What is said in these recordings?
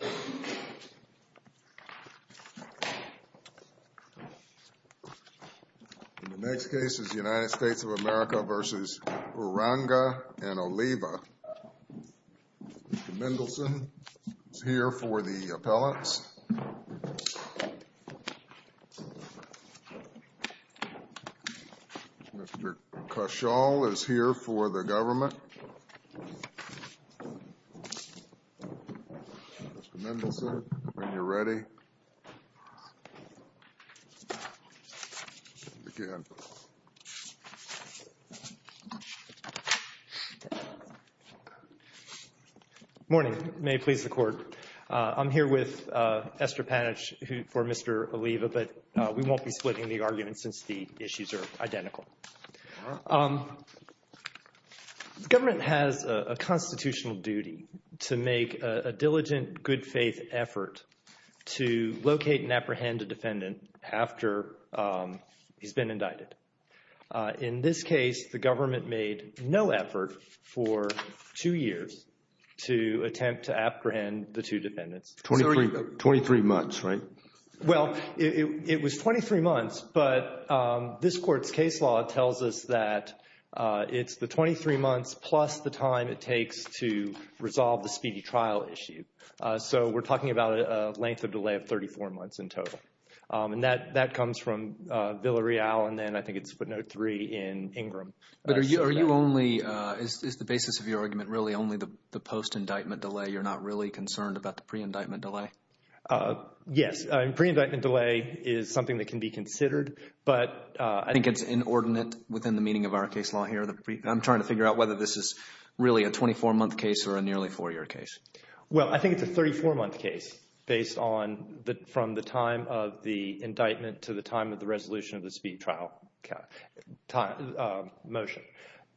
The next case is United States of America v. Uranga and Oliva. Mr. Mendelson is here for the appellants. Mr. Cashall is here for the government. Mr. Mendelson, when you're ready, begin. Morning. May it please the Court. I'm here with Esther Panitch for Mr. Oliva, but we won't be splitting the argument since the issues are identical. The government has a constitutional duty to make a diligent, good-faith effort to locate and apprehend a defendant after he's been indicted. In this case, the government made no effort for two years to attempt to apprehend the two defendants. Twenty-three months, right? Well, it was 23 months, but this Court's case law tells us that it's the 23 months plus the time it takes to resolve the speedy trial issue. So we're talking about a length of delay of 34 months in total. And that comes from Villareal and then I think it's footnote 3 in Ingram. But are you only, is the basis of your argument really only the post-indictment delay? You're not really concerned about the pre-indictment delay? Yes. Pre-indictment delay is something that can be considered, but I think it's inordinate within the meaning of our case law here. I'm trying to figure out whether this is really a 24-month case or a nearly four-year case. Well, I think it's a 34-month case based on the, from the time of the indictment to the time of the resolution of the speedy trial motion.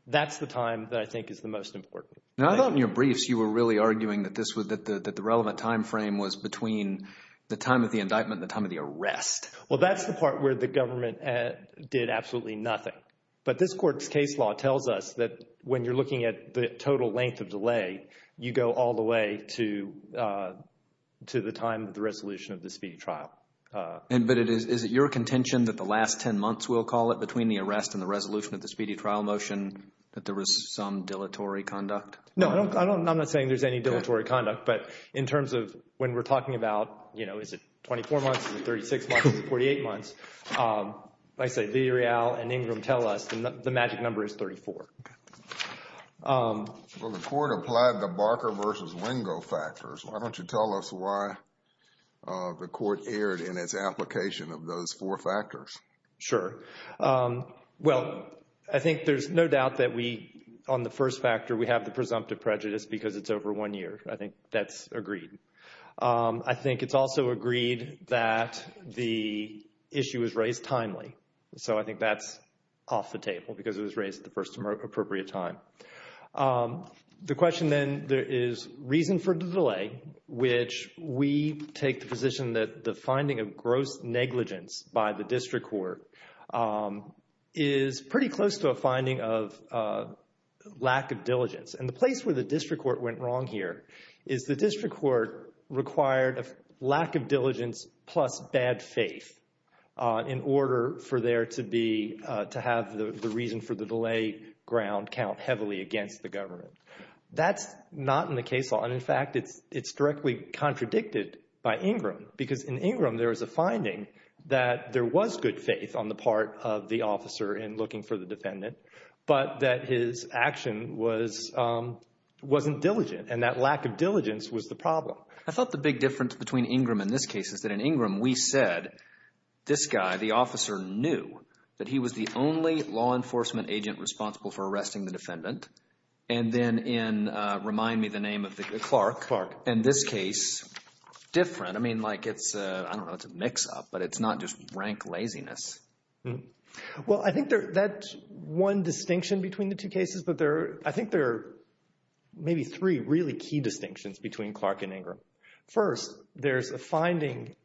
That's the time that I think is the most important. Now, I thought in your briefs you were really arguing that this was, that the relevant time frame was between the time of the indictment and the time of the arrest. Well, that's the part where the government did absolutely nothing. But this court's case law tells us that when you're looking at the total length of delay, you go all the way to the time of the resolution of the speedy trial. But is it your contention that the last 10 months, we'll call it, between the arrest and the resolution of the speedy trial motion that there was some dilatory conduct? No, I don't, I'm not saying there's any dilatory conduct. But in terms of when we're talking about, you know, is it 24 months, is it 36 months, is it 48 months, like I say, Lee, Rial, and Ingram tell us the magic number is 34. Okay. Well, the Court applied the Barker v. Wingo factors. Why don't you tell us why the Court erred in its application of those four factors? Sure. Well, I think there's no doubt that we, on the first factor, we have the presumptive prejudice because it's over one year. I think that's agreed. I think it's also agreed that the issue was raised timely. So I think that's off the table because it was raised at the first appropriate time. The question then, there is reason for the delay, which we take the position that the finding of gross negligence by the District Court is pretty close to a finding of lack of diligence. And the place where the District Court went wrong here is the District Court required a lack of diligence plus bad faith in order for there to be, to have the reason for the delay ground count heavily against the government. That's not in the case law. And in fact, it's directly contradicted by Ingram because in Ingram, there is a finding that there was good faith on the part of the officer in looking for the defendant, but that his action wasn't diligent. And that lack of diligence was the problem. I thought the big difference between Ingram and this case is that in Ingram, we said, this guy, the officer knew that he was the only law enforcement agent responsible for the name of Clark. In this case, different. I mean, like it's, I don't know, it's a mix-up, but it's not just rank laziness. Well I think that one distinction between the two cases, but I think there are maybe three really key distinctions between Clark and Ingram. First, there's a finding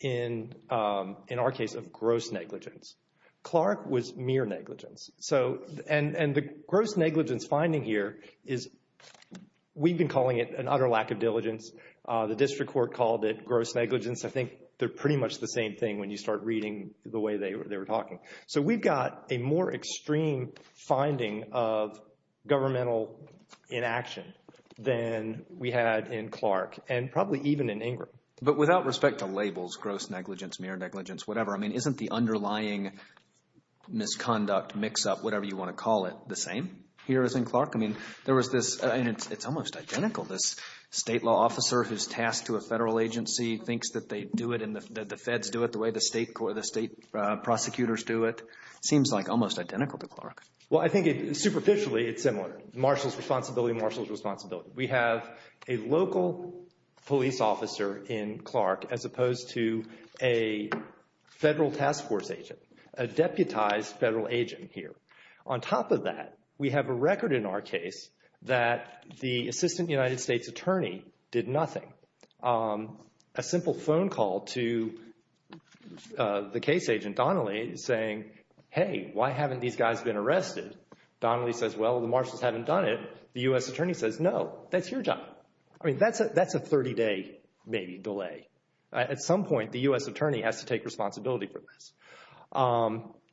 in our case of gross negligence. Clark was mere negligence. And the gross negligence finding here is, we've been calling it an utter lack of diligence. The district court called it gross negligence. I think they're pretty much the same thing when you start reading the way they were talking. So we've got a more extreme finding of governmental inaction than we had in Clark and probably even in Ingram. But without respect to labels, gross negligence, mere negligence, whatever, I mean, isn't the underlying misconduct, mix-up, whatever you want to call it, the same here as in Clark? I mean, there was this, and it's almost identical, this state law officer who's tasked to a federal agency, thinks that they do it and the feds do it the way the state prosecutors do it. Seems like almost identical to Clark. Well, I think superficially it's similar. Marshall's responsibility, Marshall's responsibility. We have a local police officer in Clark as opposed to a federal task force agent, a deputized federal agent here. On top of that, we have a record in our case that the assistant United States attorney did nothing. A simple phone call to the case agent, Donnelly, saying, hey, why haven't these guys been arrested? Donnelly says, well, the Marshalls haven't done it. The U.S. attorney says, no, that's your job. I mean, that's a 30-day, maybe, delay. At some point, the U.S. attorney has to take responsibility for this.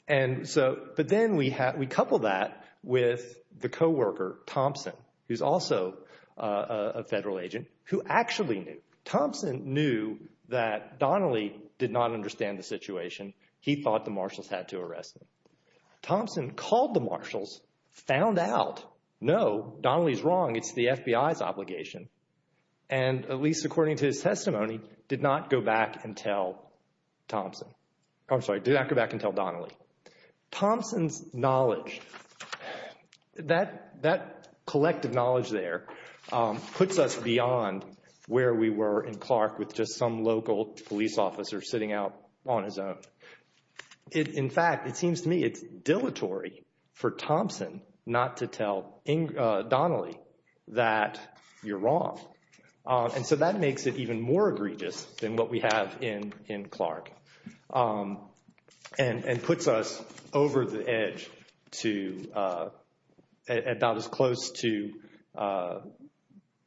And so, but then we have, we couple that with the co-worker, Thompson, who's also a federal agent, who actually knew. Thompson knew that Donnelly did not understand the situation. He thought the Marshalls had to arrest him. Thompson called the Marshalls, found out, no, Donnelly's wrong, it's the FBI's obligation, and at least according to his testimony, did not go back and tell Thompson. I'm sorry, did not go back and tell Donnelly. Thompson's knowledge, that collective knowledge there puts us beyond where we were in Clark with just some local police officer sitting out on his own. In fact, it seems to me it's dilatory for Thompson not to tell Donnelly that you're wrong. And so that makes it even more egregious than what we have in Clark. And puts us over the edge to, about as close to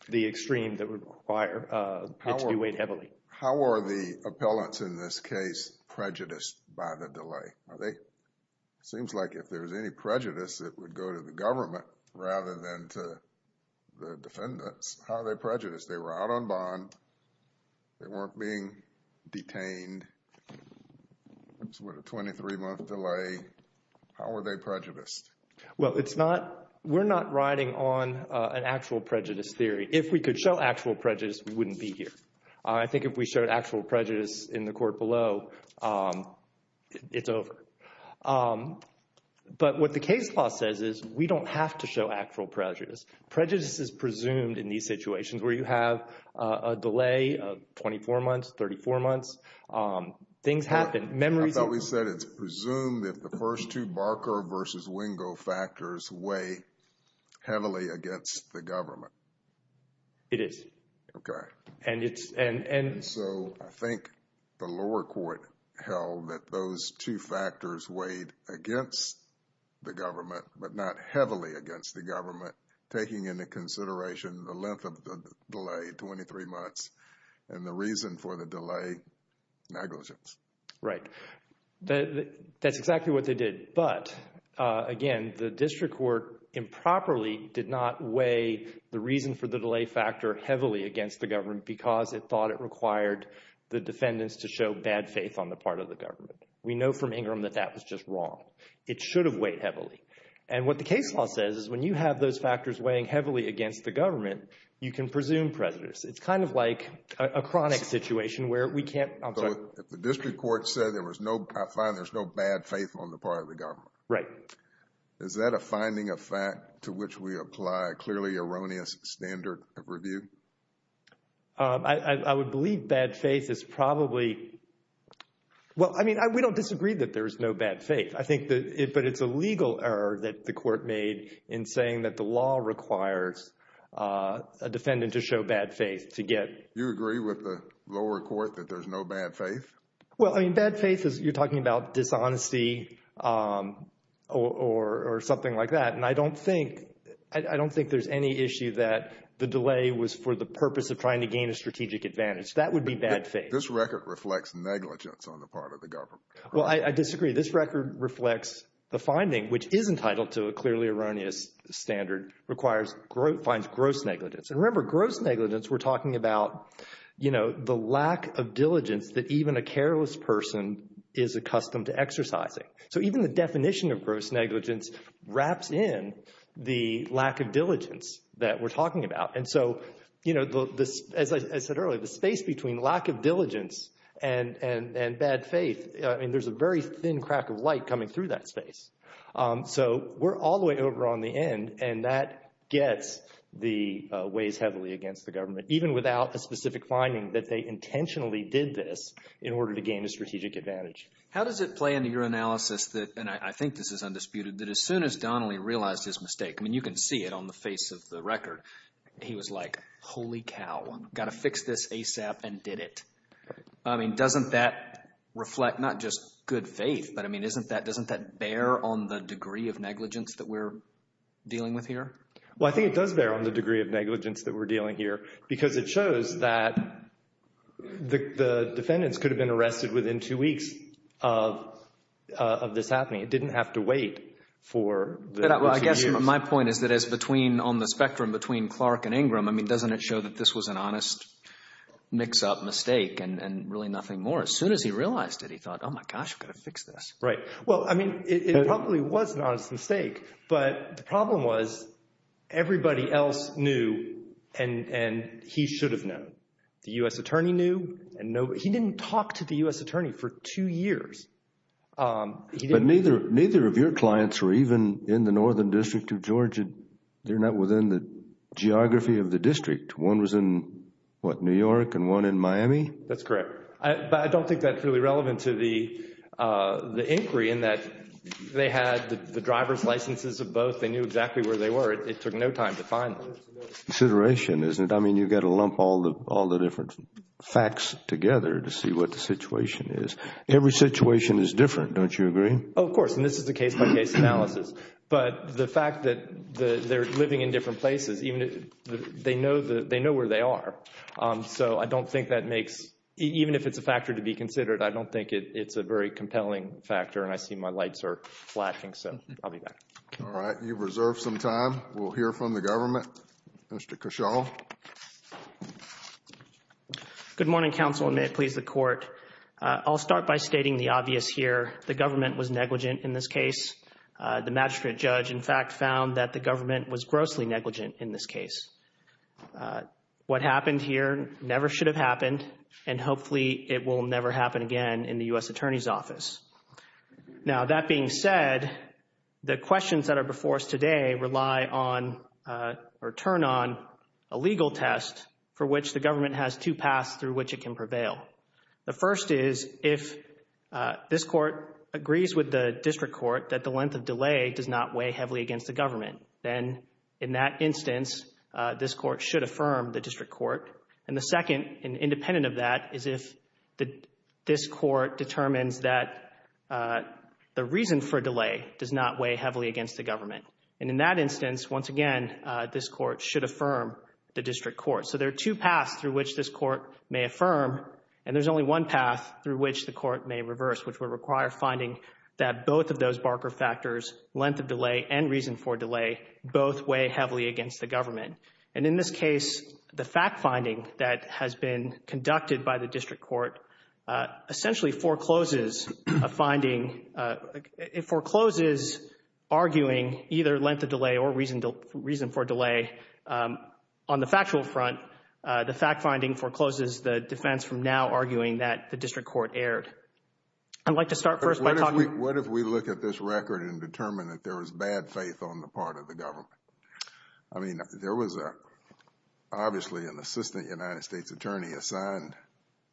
the extreme that would require it to be weighed heavily. How are the appellants in this case prejudiced by the delay? Are they, it seems like if there's any prejudice, it would go to the government rather than to the defendants. How are they prejudiced? They were out on bond, they weren't being detained, with a 23-month delay. How are they prejudiced? Well, it's not, we're not riding on an actual prejudice theory. If we could show actual prejudice, we wouldn't be here. I think if we showed actual prejudice in the court below, it's over. But what the case law says is we don't have to show actual prejudice. Prejudice is presumed in these situations where you have a delay of 24 months, 34 months. Things happen, memories... I thought we said it's presumed that the first two Barker versus Wingo factors weigh heavily against the government. It is. Okay. And it's, and... But not heavily against the government, taking into consideration the length of the delay, 23 months, and the reason for the delay, negligence. Right. That's exactly what they did. But again, the district court improperly did not weigh the reason for the delay factor heavily against the government because it thought it required the defendants to show bad faith on the part of the government. We know from Ingram that that was just wrong. It should have weighed heavily. And what the case law says is when you have those factors weighing heavily against the government, you can presume prejudice. It's kind of like a chronic situation where we can't... So if the district court said there was no, I find there's no bad faith on the part of the government. Right. Is that a finding of fact to which we apply a clearly erroneous standard of review? I would believe bad faith is probably... Well, I mean, we don't disagree that there is no bad faith. But it's a legal error that the court made in saying that the law requires a defendant to show bad faith to get... You agree with the lower court that there's no bad faith? Well, I mean, bad faith is you're talking about dishonesty or something like that. And I don't think there's any issue that the delay was for the purpose of trying to gain a strategic advantage. That would be bad faith. This record reflects negligence on the part of the government. Well, I disagree. This record reflects the finding, which is entitled to a clearly erroneous standard, finds gross negligence. And remember, gross negligence, we're talking about the lack of diligence that even a careless person is accustomed to exercising. So even the definition of gross negligence wraps in the lack of diligence that we're talking about. And so, as I said earlier, the space between lack of diligence and bad faith, I mean, there's a very thin crack of light coming through that space. So we're all the way over on the end. And that gets the ways heavily against the government, even without a specific finding that they intentionally did this in order to gain a strategic advantage. How does it play into your analysis that, and I think this is undisputed, that as soon as Donnelly realized his mistake, I mean, you can see it on the face of the record, he was like, holy cow, got to fix this ASAP and did it. I mean, doesn't that reflect not just good faith, but I mean, isn't that, doesn't that bear on the degree of negligence that we're dealing with here? Well, I think it does bear on the degree of negligence that we're dealing here because it shows that the defendants could have been arrested within two weeks of this happening. It didn't have to wait for the two years. I guess my point is that as between, on the spectrum between Clark and Ingram, I mean, doesn't it show that this was an honest mix-up mistake and really nothing more? As soon as he realized it, he thought, oh my gosh, I've got to fix this. Right. Well, I mean, it probably was an honest mistake, but the problem was everybody else knew and he should have known. The U.S. attorney knew and nobody, he didn't talk to the U.S. attorney for two years. But neither of your clients were even in the Northern District of Georgia. They're not within the geography of the district. One was in, what, New York and one in Miami? That's correct. But I don't think that's really relevant to the inquiry in that they had the driver's licenses of both. They knew exactly where they were. It took no time to find them. It's a consideration, isn't it? I mean, you've got to lump all the different facts together to see what the situation is. Every situation is different, don't you agree? Oh, of course. And this is a case-by-case analysis. But the fact that they're living in different places, they know where they are. So I don't think that makes, even if it's a factor to be considered, I don't think it's a very compelling factor. And I see my lights are flashing, so I'll be back. All right. You've reserved some time. We'll hear from the government. Mr. Cashaw. Good morning, counsel, and may it please the Court. I'll start by stating the obvious here. The government was negligent in this case. The magistrate judge, in fact, found that the government was grossly negligent in this case. What happened here never should have happened, and hopefully it will never happen again in the U.S. Attorney's Office. Now, that being said, the questions that are before us today rely on, or turn on, a legal test for which the government has two paths through which it can prevail. The first is if this Court agrees with the district court that the length of delay does not weigh heavily against the government. Then, in that instance, this Court should affirm the district court. And the second, independent of that, is if this Court determines that the reason for delay does not weigh heavily against the government. And in that instance, once again, this Court should affirm the district court. So there are two paths through which this Court may affirm, and there's only one path through which the Court may reverse, which would require finding that both of those Barker factors, length of delay and reason for delay, both weigh heavily against the government. And in this case, the fact finding that has been conducted by the district court essentially forecloses a finding, it forecloses arguing either length of delay or reason for delay on the factual front. The fact finding forecloses the defense from now arguing that the district court erred. I'd like to start first by talking... What if we look at this record and determine that there was bad faith on the part of the government? I mean, there was obviously an assistant United States attorney assigned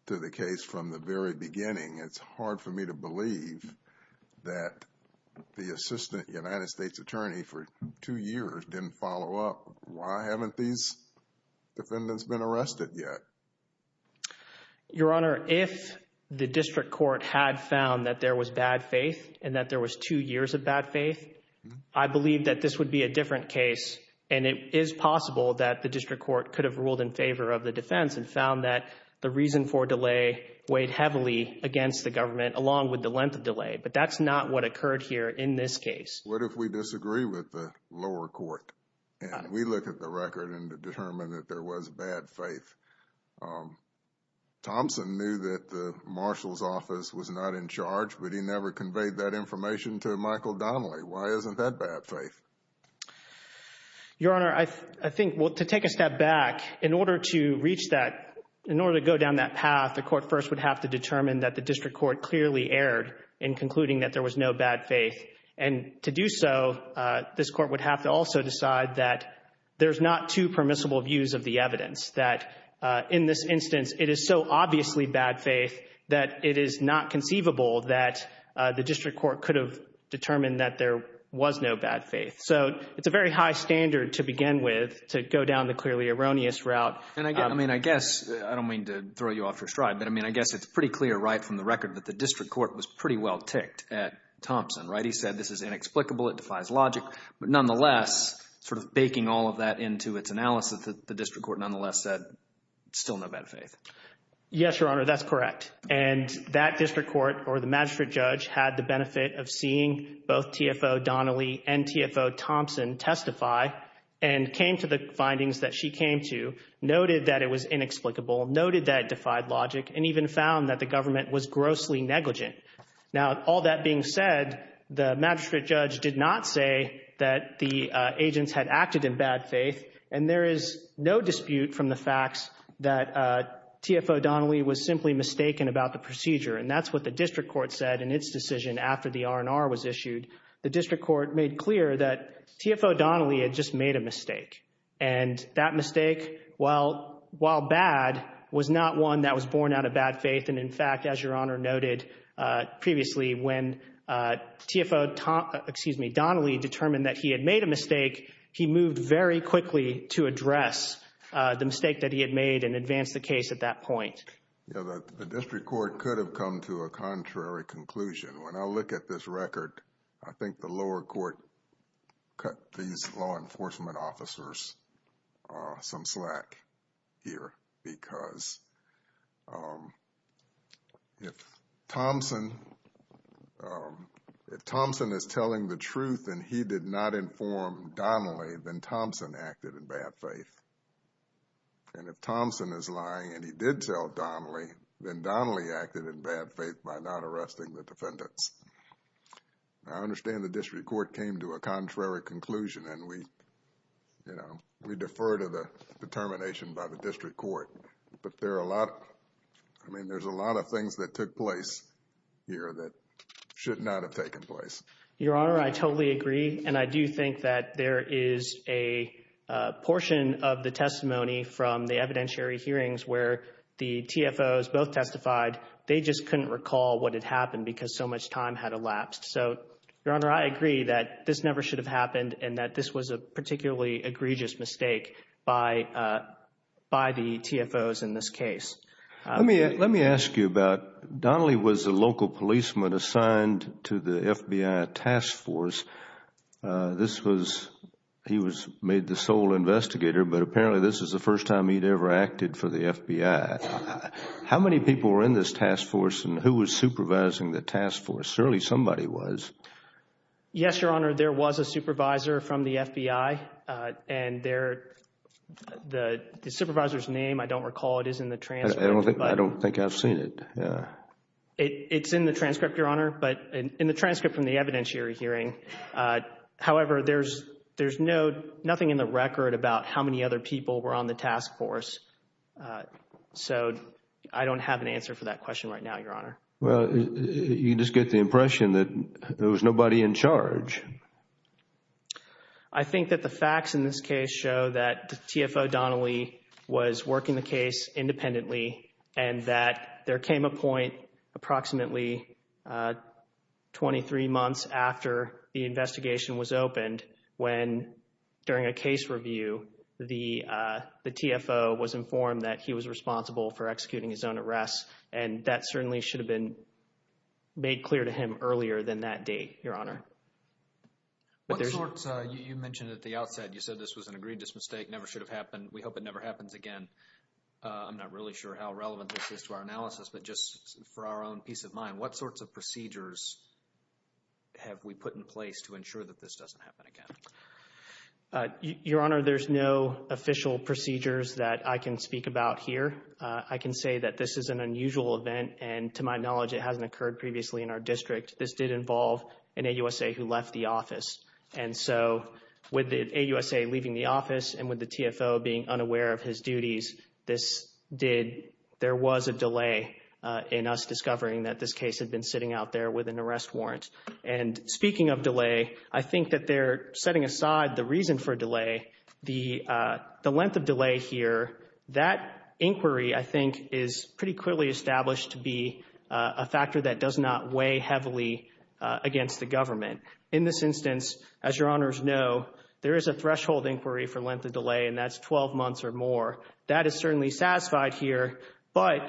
to the case from the very beginning. It's hard for me to believe that the assistant United States attorney for two years didn't follow up. Why haven't these defendants been arrested yet? Your Honor, if the district court had found that there was bad faith and that there was two years of bad faith, I believe that this would be a different case. And it is possible that the district court could have ruled in favor of the defense and found that the reason for delay weighed heavily against the government along with the length of delay. But that's not what occurred here in this case. What if we disagree with the lower court and we look at the record and determine that there was bad faith? Thompson knew that the marshal's office was not in charge, but he never conveyed that information to Michael Donnelly. Why isn't that bad faith? Your Honor, I think, well, to take a step back, in order to reach that, in order to go down that path, the court first would have to determine that the district court clearly erred in concluding that there was no bad faith. And to do so, this court would have to also decide that there's not two permissible views of the evidence, that in this instance, it is so obviously bad faith that it is not conceivable that the district court could have determined that there was no bad faith. So it's a very high standard to begin with to go down the clearly erroneous route. And I mean, I guess, I don't mean to throw you off your stride, but I mean, I guess it's pretty clear right from the record that the district court was pretty well ticked at Thompson, right? He said this is inexplicable. It defies logic. But nonetheless, sort of baking all of that into its analysis, the district court nonetheless said still no bad faith. Yes, Your Honor, that's correct. And that district court or the magistrate judge had the benefit of seeing both TFO Donnelly and TFO Thompson testify and came to the findings that she came to, noted that it was inexplicable, noted that it defied logic, and even found that the government was grossly negligent. Now, all that being said, the magistrate judge did not say that the agents had acted in bad faith. And there is no dispute from the facts that TFO Donnelly was simply mistaken about the procedure. And that's what the district court said in its decision after the R&R was issued. The district court made clear that TFO Donnelly had just made a mistake. And that mistake, while bad, was not one that was born out of bad faith. And in fact, as Your Honor noted previously, when TFO Donnelly determined that he had made a mistake, he moved very quickly to address the mistake that he had made and advance the case at that point. Yeah, the district court could have come to a contrary conclusion. When I look at this record, I think the lower court cut these law enforcement officers some slack here because if Thompson is telling the truth and he did not inform Donnelly, then Thompson acted in bad faith. And if Thompson is lying and he did tell Donnelly, then Donnelly acted in bad faith by not arresting the defendants. I understand the district court came to a contrary conclusion. And we, you know, we defer to the determination by the district court. But there are a lot, I mean, there's a lot of things that took place here that should not have taken place. Your Honor, I totally agree. And I do think that there is a portion of the testimony from the evidentiary hearings where the TFOs both testified. They just couldn't recall what had happened because so much time had elapsed. So, Your Honor, I agree that this never should have happened and that this was a particularly egregious mistake by the TFOs in this case. Let me ask you about, Donnelly was a local policeman assigned to the FBI task force. This was, he was made the sole investigator, but apparently this is the first time he'd ever acted for the FBI. How many people were in this task force and who was supervising the task force? Surely somebody was. Yes, Your Honor, there was a supervisor from the FBI. And the supervisor's name, I don't recall, it is in the transcript. I don't think I've seen it. It's in the transcript, Your Honor. But in the transcript from the evidentiary hearing, however, there's nothing in the record about how many other people were on the task force. So I don't have an answer for that question right now, Your Honor. Well, you just get the impression that there was nobody in charge. I think that the facts in this case show that TFO Donnelly was working the case independently and that there came a point approximately 23 months after the investigation was opened when during a case review, the TFO was informed that he was responsible for executing his own arrests. And that certainly should have been made clear to him earlier than that date, Your Honor. What sorts, you mentioned at the outset, you said this was an egregious mistake, never should have happened. We hope it never happens again. I'm not really sure how relevant this is to our analysis, but just for our own peace of mind, what sorts of procedures have we put in place to ensure that this doesn't happen again? Your Honor, there's no official procedures that I can speak about here. I can say that this is an unusual event. And to my knowledge, it hasn't occurred previously in our district. This did involve an AUSA who left the office. And so with the AUSA leaving the office and with the TFO being unaware of his duties, this did, there was a delay in us discovering that this case had been sitting out there with an arrest warrant. And speaking of delay, I think that they're setting aside the reason for delay. The length of delay here, that inquiry, I think, is pretty clearly established to be a factor that does not weigh heavily against the government. In this instance, as Your Honors know, there is a threshold inquiry for length of delay and that's 12 months or more. That is certainly satisfied here. But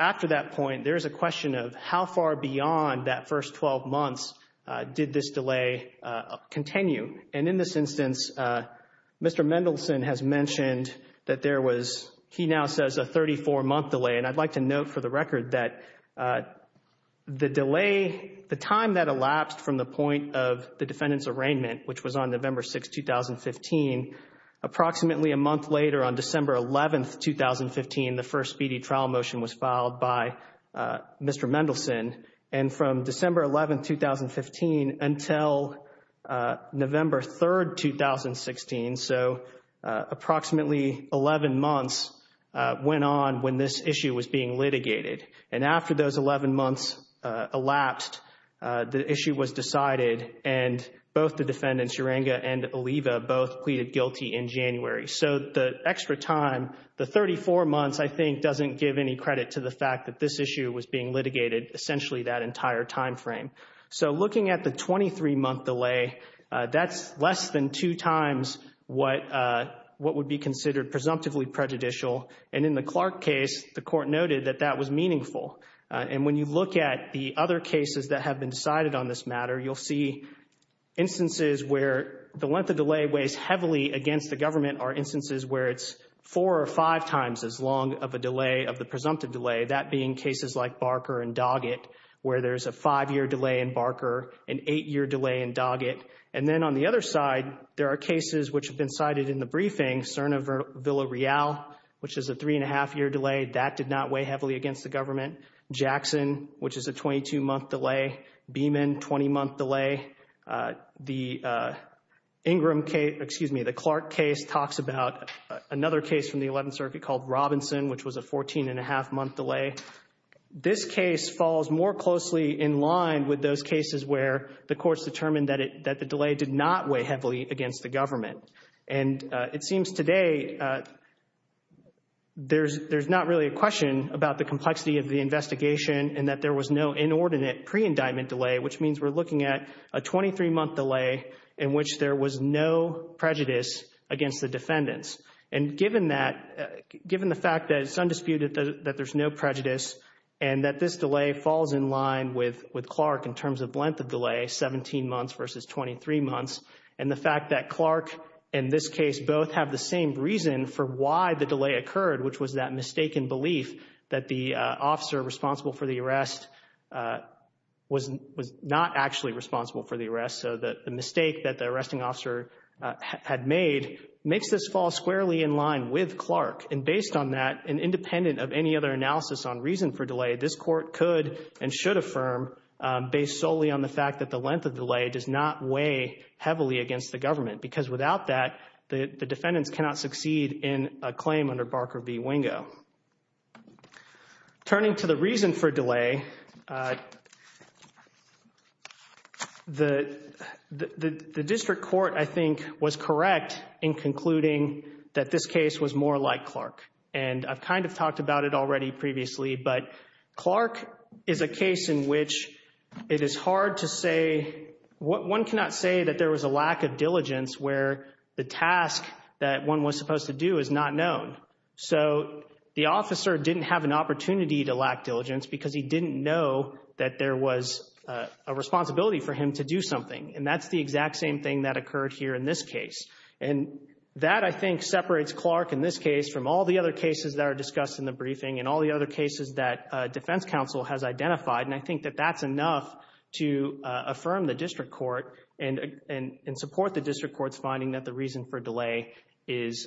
after that point, there is a question of how far beyond that first 12 months did this delay continue? And in this instance, Mr. Mendelson has mentioned that there was, he now says, a 34-month delay. And I'd like to note for the record that the delay, the time that elapsed from the point of the defendant's arraignment, which was on November 6, 2015, approximately a month later on December 11, 2015, the first speedy trial motion was filed by Mr. Mendelson. And from December 11, 2015 until November 3, 2016, so approximately 11 months went on when this issue was being litigated. And after those 11 months elapsed, the issue was decided and both the defendants, Urenga and Oliva, both pleaded guilty in January. So the extra time, the 34 months, I think, doesn't give any credit to the fact that this issue was being litigated essentially that entire time frame. So looking at the 23-month delay, that's less than two times what would be considered presumptively prejudicial. And in the Clark case, the court noted that that was meaningful. And when you look at the other cases that have been decided on this matter, you'll see instances where the length of delay weighs heavily against the government or instances where it's four or five times as long of a delay, of the presumptive delay, that being cases like Barker and Doggett, where there's a five-year delay in Barker, an eight-year delay in Doggett. And then on the other side, there are cases which have been cited in the briefing. Cerna-Villareal, which is a three-and-a-half-year delay, that did not weigh heavily against the government. Jackson, which is a 22-month delay. Beeman, 20-month delay. The Clark case talks about another case from the Eleventh Circuit called Robinson, which was a 14-and-a-half-month delay. This case falls more closely in line with those cases where the courts determined that the delay did not weigh heavily against the government. And it seems today there's not really a question about the complexity of the investigation and that there was no inordinate pre-indictment delay, which means we're looking at a 23-month delay in which there was no prejudice against the defendants. And given that, given the fact that it's undisputed that there's no prejudice and that this delay falls in line with Clark in terms of length of delay, 17 months versus 23 months, and the fact that Clark and this case both have the same reason for why the delay occurred, which was that mistaken belief that the officer responsible for the arrest was not actually responsible for the arrest. So the mistake that the arresting officer had made makes this fall squarely in line with Clark. And based on that, and independent of any other analysis on reason for delay, this court could and should affirm, based solely on the fact that the length of delay does not weigh heavily against the government. Because without that, the defendants cannot succeed in a claim under Barker v. Wingo. Turning to the reason for delay, the district court, I think, was correct in concluding that this case was more like Clark. And I've kind of talked about it already previously, but Clark is a case in which it is hard to say that there was a lack of diligence where the task that one was supposed to do is not known. So the officer didn't have an opportunity to lack diligence because he didn't know that there was a responsibility for him to do something. And that's the exact same thing that occurred here in this case. And that, I think, separates Clark in this case from all the other cases that are discussed in the briefing and all the other cases that defense counsel has identified. And I think that that's enough to affirm the district court and support the district court's finding that the reason for delay does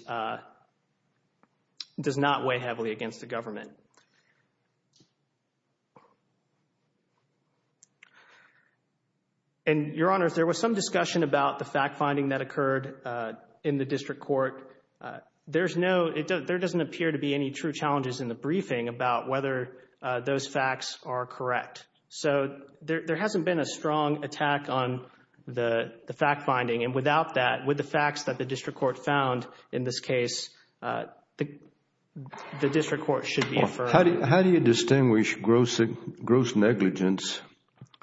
not weigh heavily against the government. And, Your Honor, if there was some discussion about the fact-finding that occurred in the district court, there doesn't appear to be any true challenges in the briefing about whether those facts are correct. So there hasn't been a strong attack on the fact-finding. And without that, with the facts that the district court found in this case, the district court should be affirmed. How do you distinguish gross negligence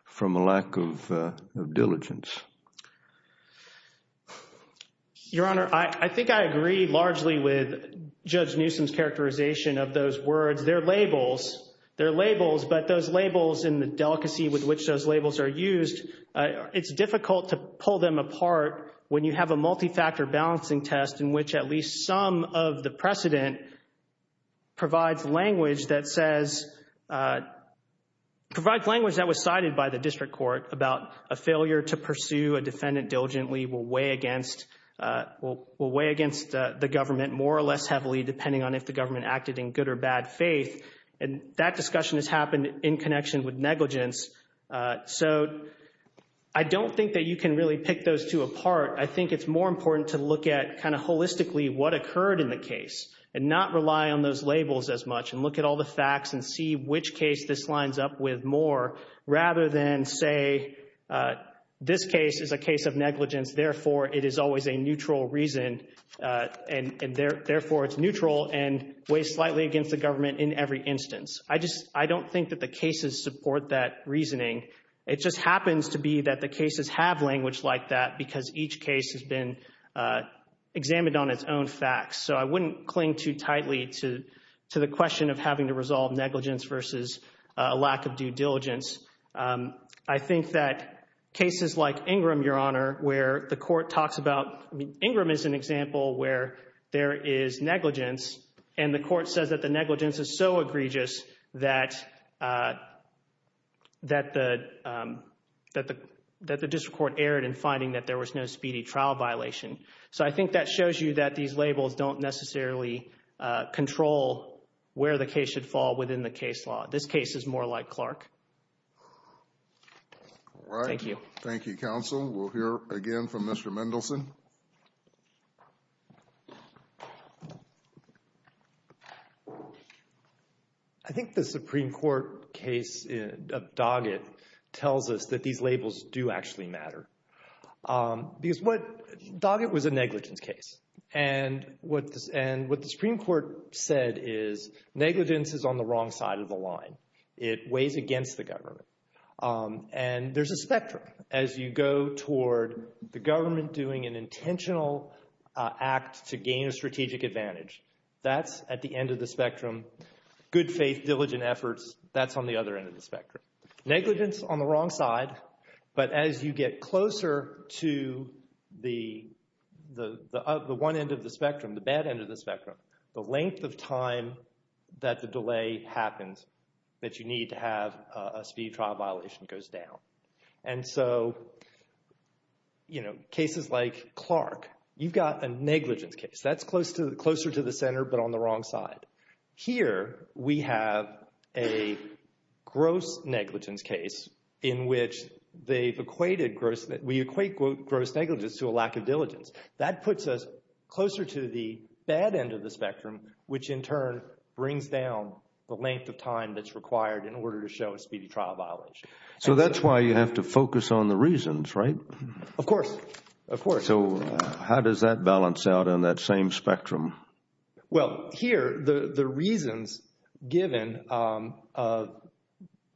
from a lack of diligence? Your Honor, I think I agree largely with Judge Newsom's characterization of those words. They're labels. They're labels, but those labels and the delicacy with which those labels are used, it's difficult to pull them apart when you have a multi-factor balancing test in which at least some of the precedent provides language that says, provides language that was cited by the district court about a failure to pursue a defendant diligently will weigh against, will weigh against the government more or less heavily depending on if the government acted in good or bad faith. And that discussion has happened in connection with negligence. So I don't think that you can really pick those two apart. I think it's more important to look at kind of holistically what occurred in the case and not rely on those labels as much and look at all the facts and see which case this lines up with more rather than say, this case is a case of negligence, therefore it is always a neutral reason and therefore it's neutral and weighs slightly against the government in every instance. I just, I don't think that the cases support that reasoning. It just happens to be that the cases have language like that because each case has been examined on its own facts. So I wouldn't cling too tightly to the question of having to resolve negligence versus a lack of due diligence. I think that cases like Ingram, Your Honor, where the court talks about, I mean, Ingram is an example where there is negligence and the court says that the negligence is so egregious that the district court erred in finding that there was no speedy trial violation. So I think that shows you that these labels don't necessarily control where the case should fall within the case law. This case is more like Clark. All right. Thank you. Thank you, counsel. We'll hear again from Mr. Mendelson. I think the Supreme Court case of Doggett tells us that these labels do actually matter. Because what, Doggett was a negligence case and what the Supreme Court said is negligence is on the wrong side of the line. It weighs against the government. And there's a spectrum. As you go toward the government doing an intentional act to gain a strategic advantage, that's at the end of the spectrum. Good faith, diligent efforts, that's on the other end of the spectrum. Negligence on the wrong side. But as you get closer to the one end of the spectrum, the bad end of the spectrum, the delay happens that you need to have a speedy trial violation goes down. And so, you know, cases like Clark, you've got a negligence case. That's closer to the center but on the wrong side. Here we have a gross negligence case in which they've equated gross, we equate gross negligence to a lack of diligence. That puts us closer to the bad end of the spectrum, which in turn brings down the length of time that's required in order to show a speedy trial violation. So that's why you have to focus on the reasons, right? Of course, of course. So how does that balance out on that same spectrum? Well, here the reasons given,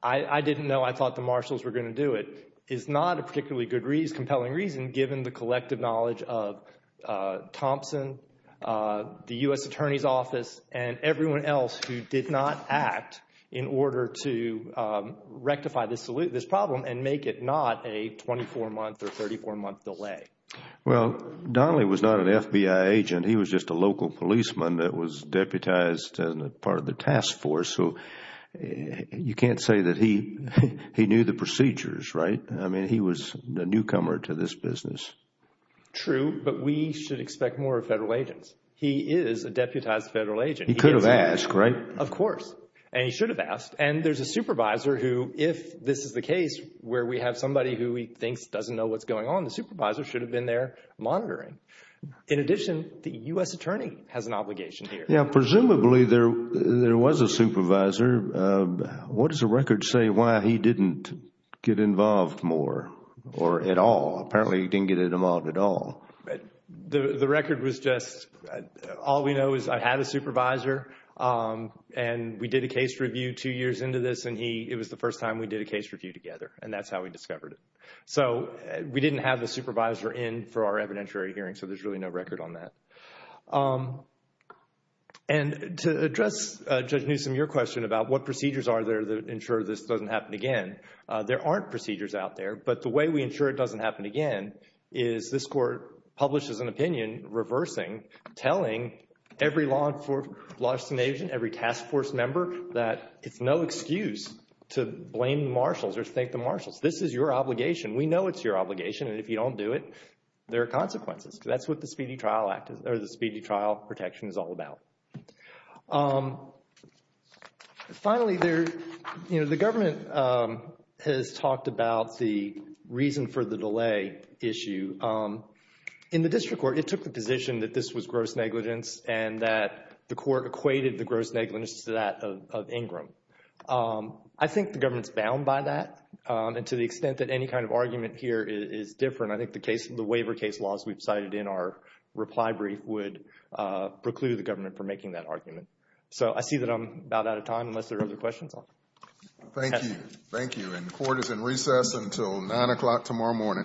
I didn't know, I thought the marshals were going to do it, is not a particularly good, compelling reason given the collective knowledge of Thompson, the U.S. Attorney's Office and everyone else who did not act in order to rectify this problem and make it not a 24-month or 34-month delay. Well, Donnelly was not an FBI agent. He was just a local policeman that was deputized as part of the task force. So you can't say that he knew the procedures, right? He was a newcomer to this business. True, but we should expect more of federal agents. He is a deputized federal agent. He could have asked, right? Of course, and he should have asked. And there's a supervisor who, if this is the case where we have somebody who he thinks doesn't know what's going on, the supervisor should have been there monitoring. In addition, the U.S. Attorney has an obligation here. Yeah, presumably there was a supervisor. What does the record say why he didn't get involved more or at all? Apparently, he didn't get involved at all. The record was just, all we know is I had a supervisor and we did a case review two years into this and it was the first time we did a case review together and that's how we discovered it. So we didn't have a supervisor in for our evidentiary hearing. So there's really no record on that. And to address, Judge Newsom, your question about what procedures are there that ensure this doesn't happen again, there aren't procedures out there. But the way we ensure it doesn't happen again is this Court publishes an opinion reversing, telling every law enforcement agent, every task force member that it's no excuse to blame the marshals or thank the marshals. This is your obligation. We know it's your obligation and if you don't do it, there are consequences. That's what the Speedy Trial Protection is all about. Finally, the government has talked about the reason for the delay issue. In the district court, it took the position that this was gross negligence and that the court equated the gross negligence to that of Ingram. I think the government's bound by that and to the extent that any kind of argument here is different. I think the case, the waiver case laws we've cited in our reply brief would preclude the government from making that argument. So I see that I'm about out of time unless there are other questions. Thank you. Thank you. And court is in recess until nine o'clock tomorrow morning. Thank you.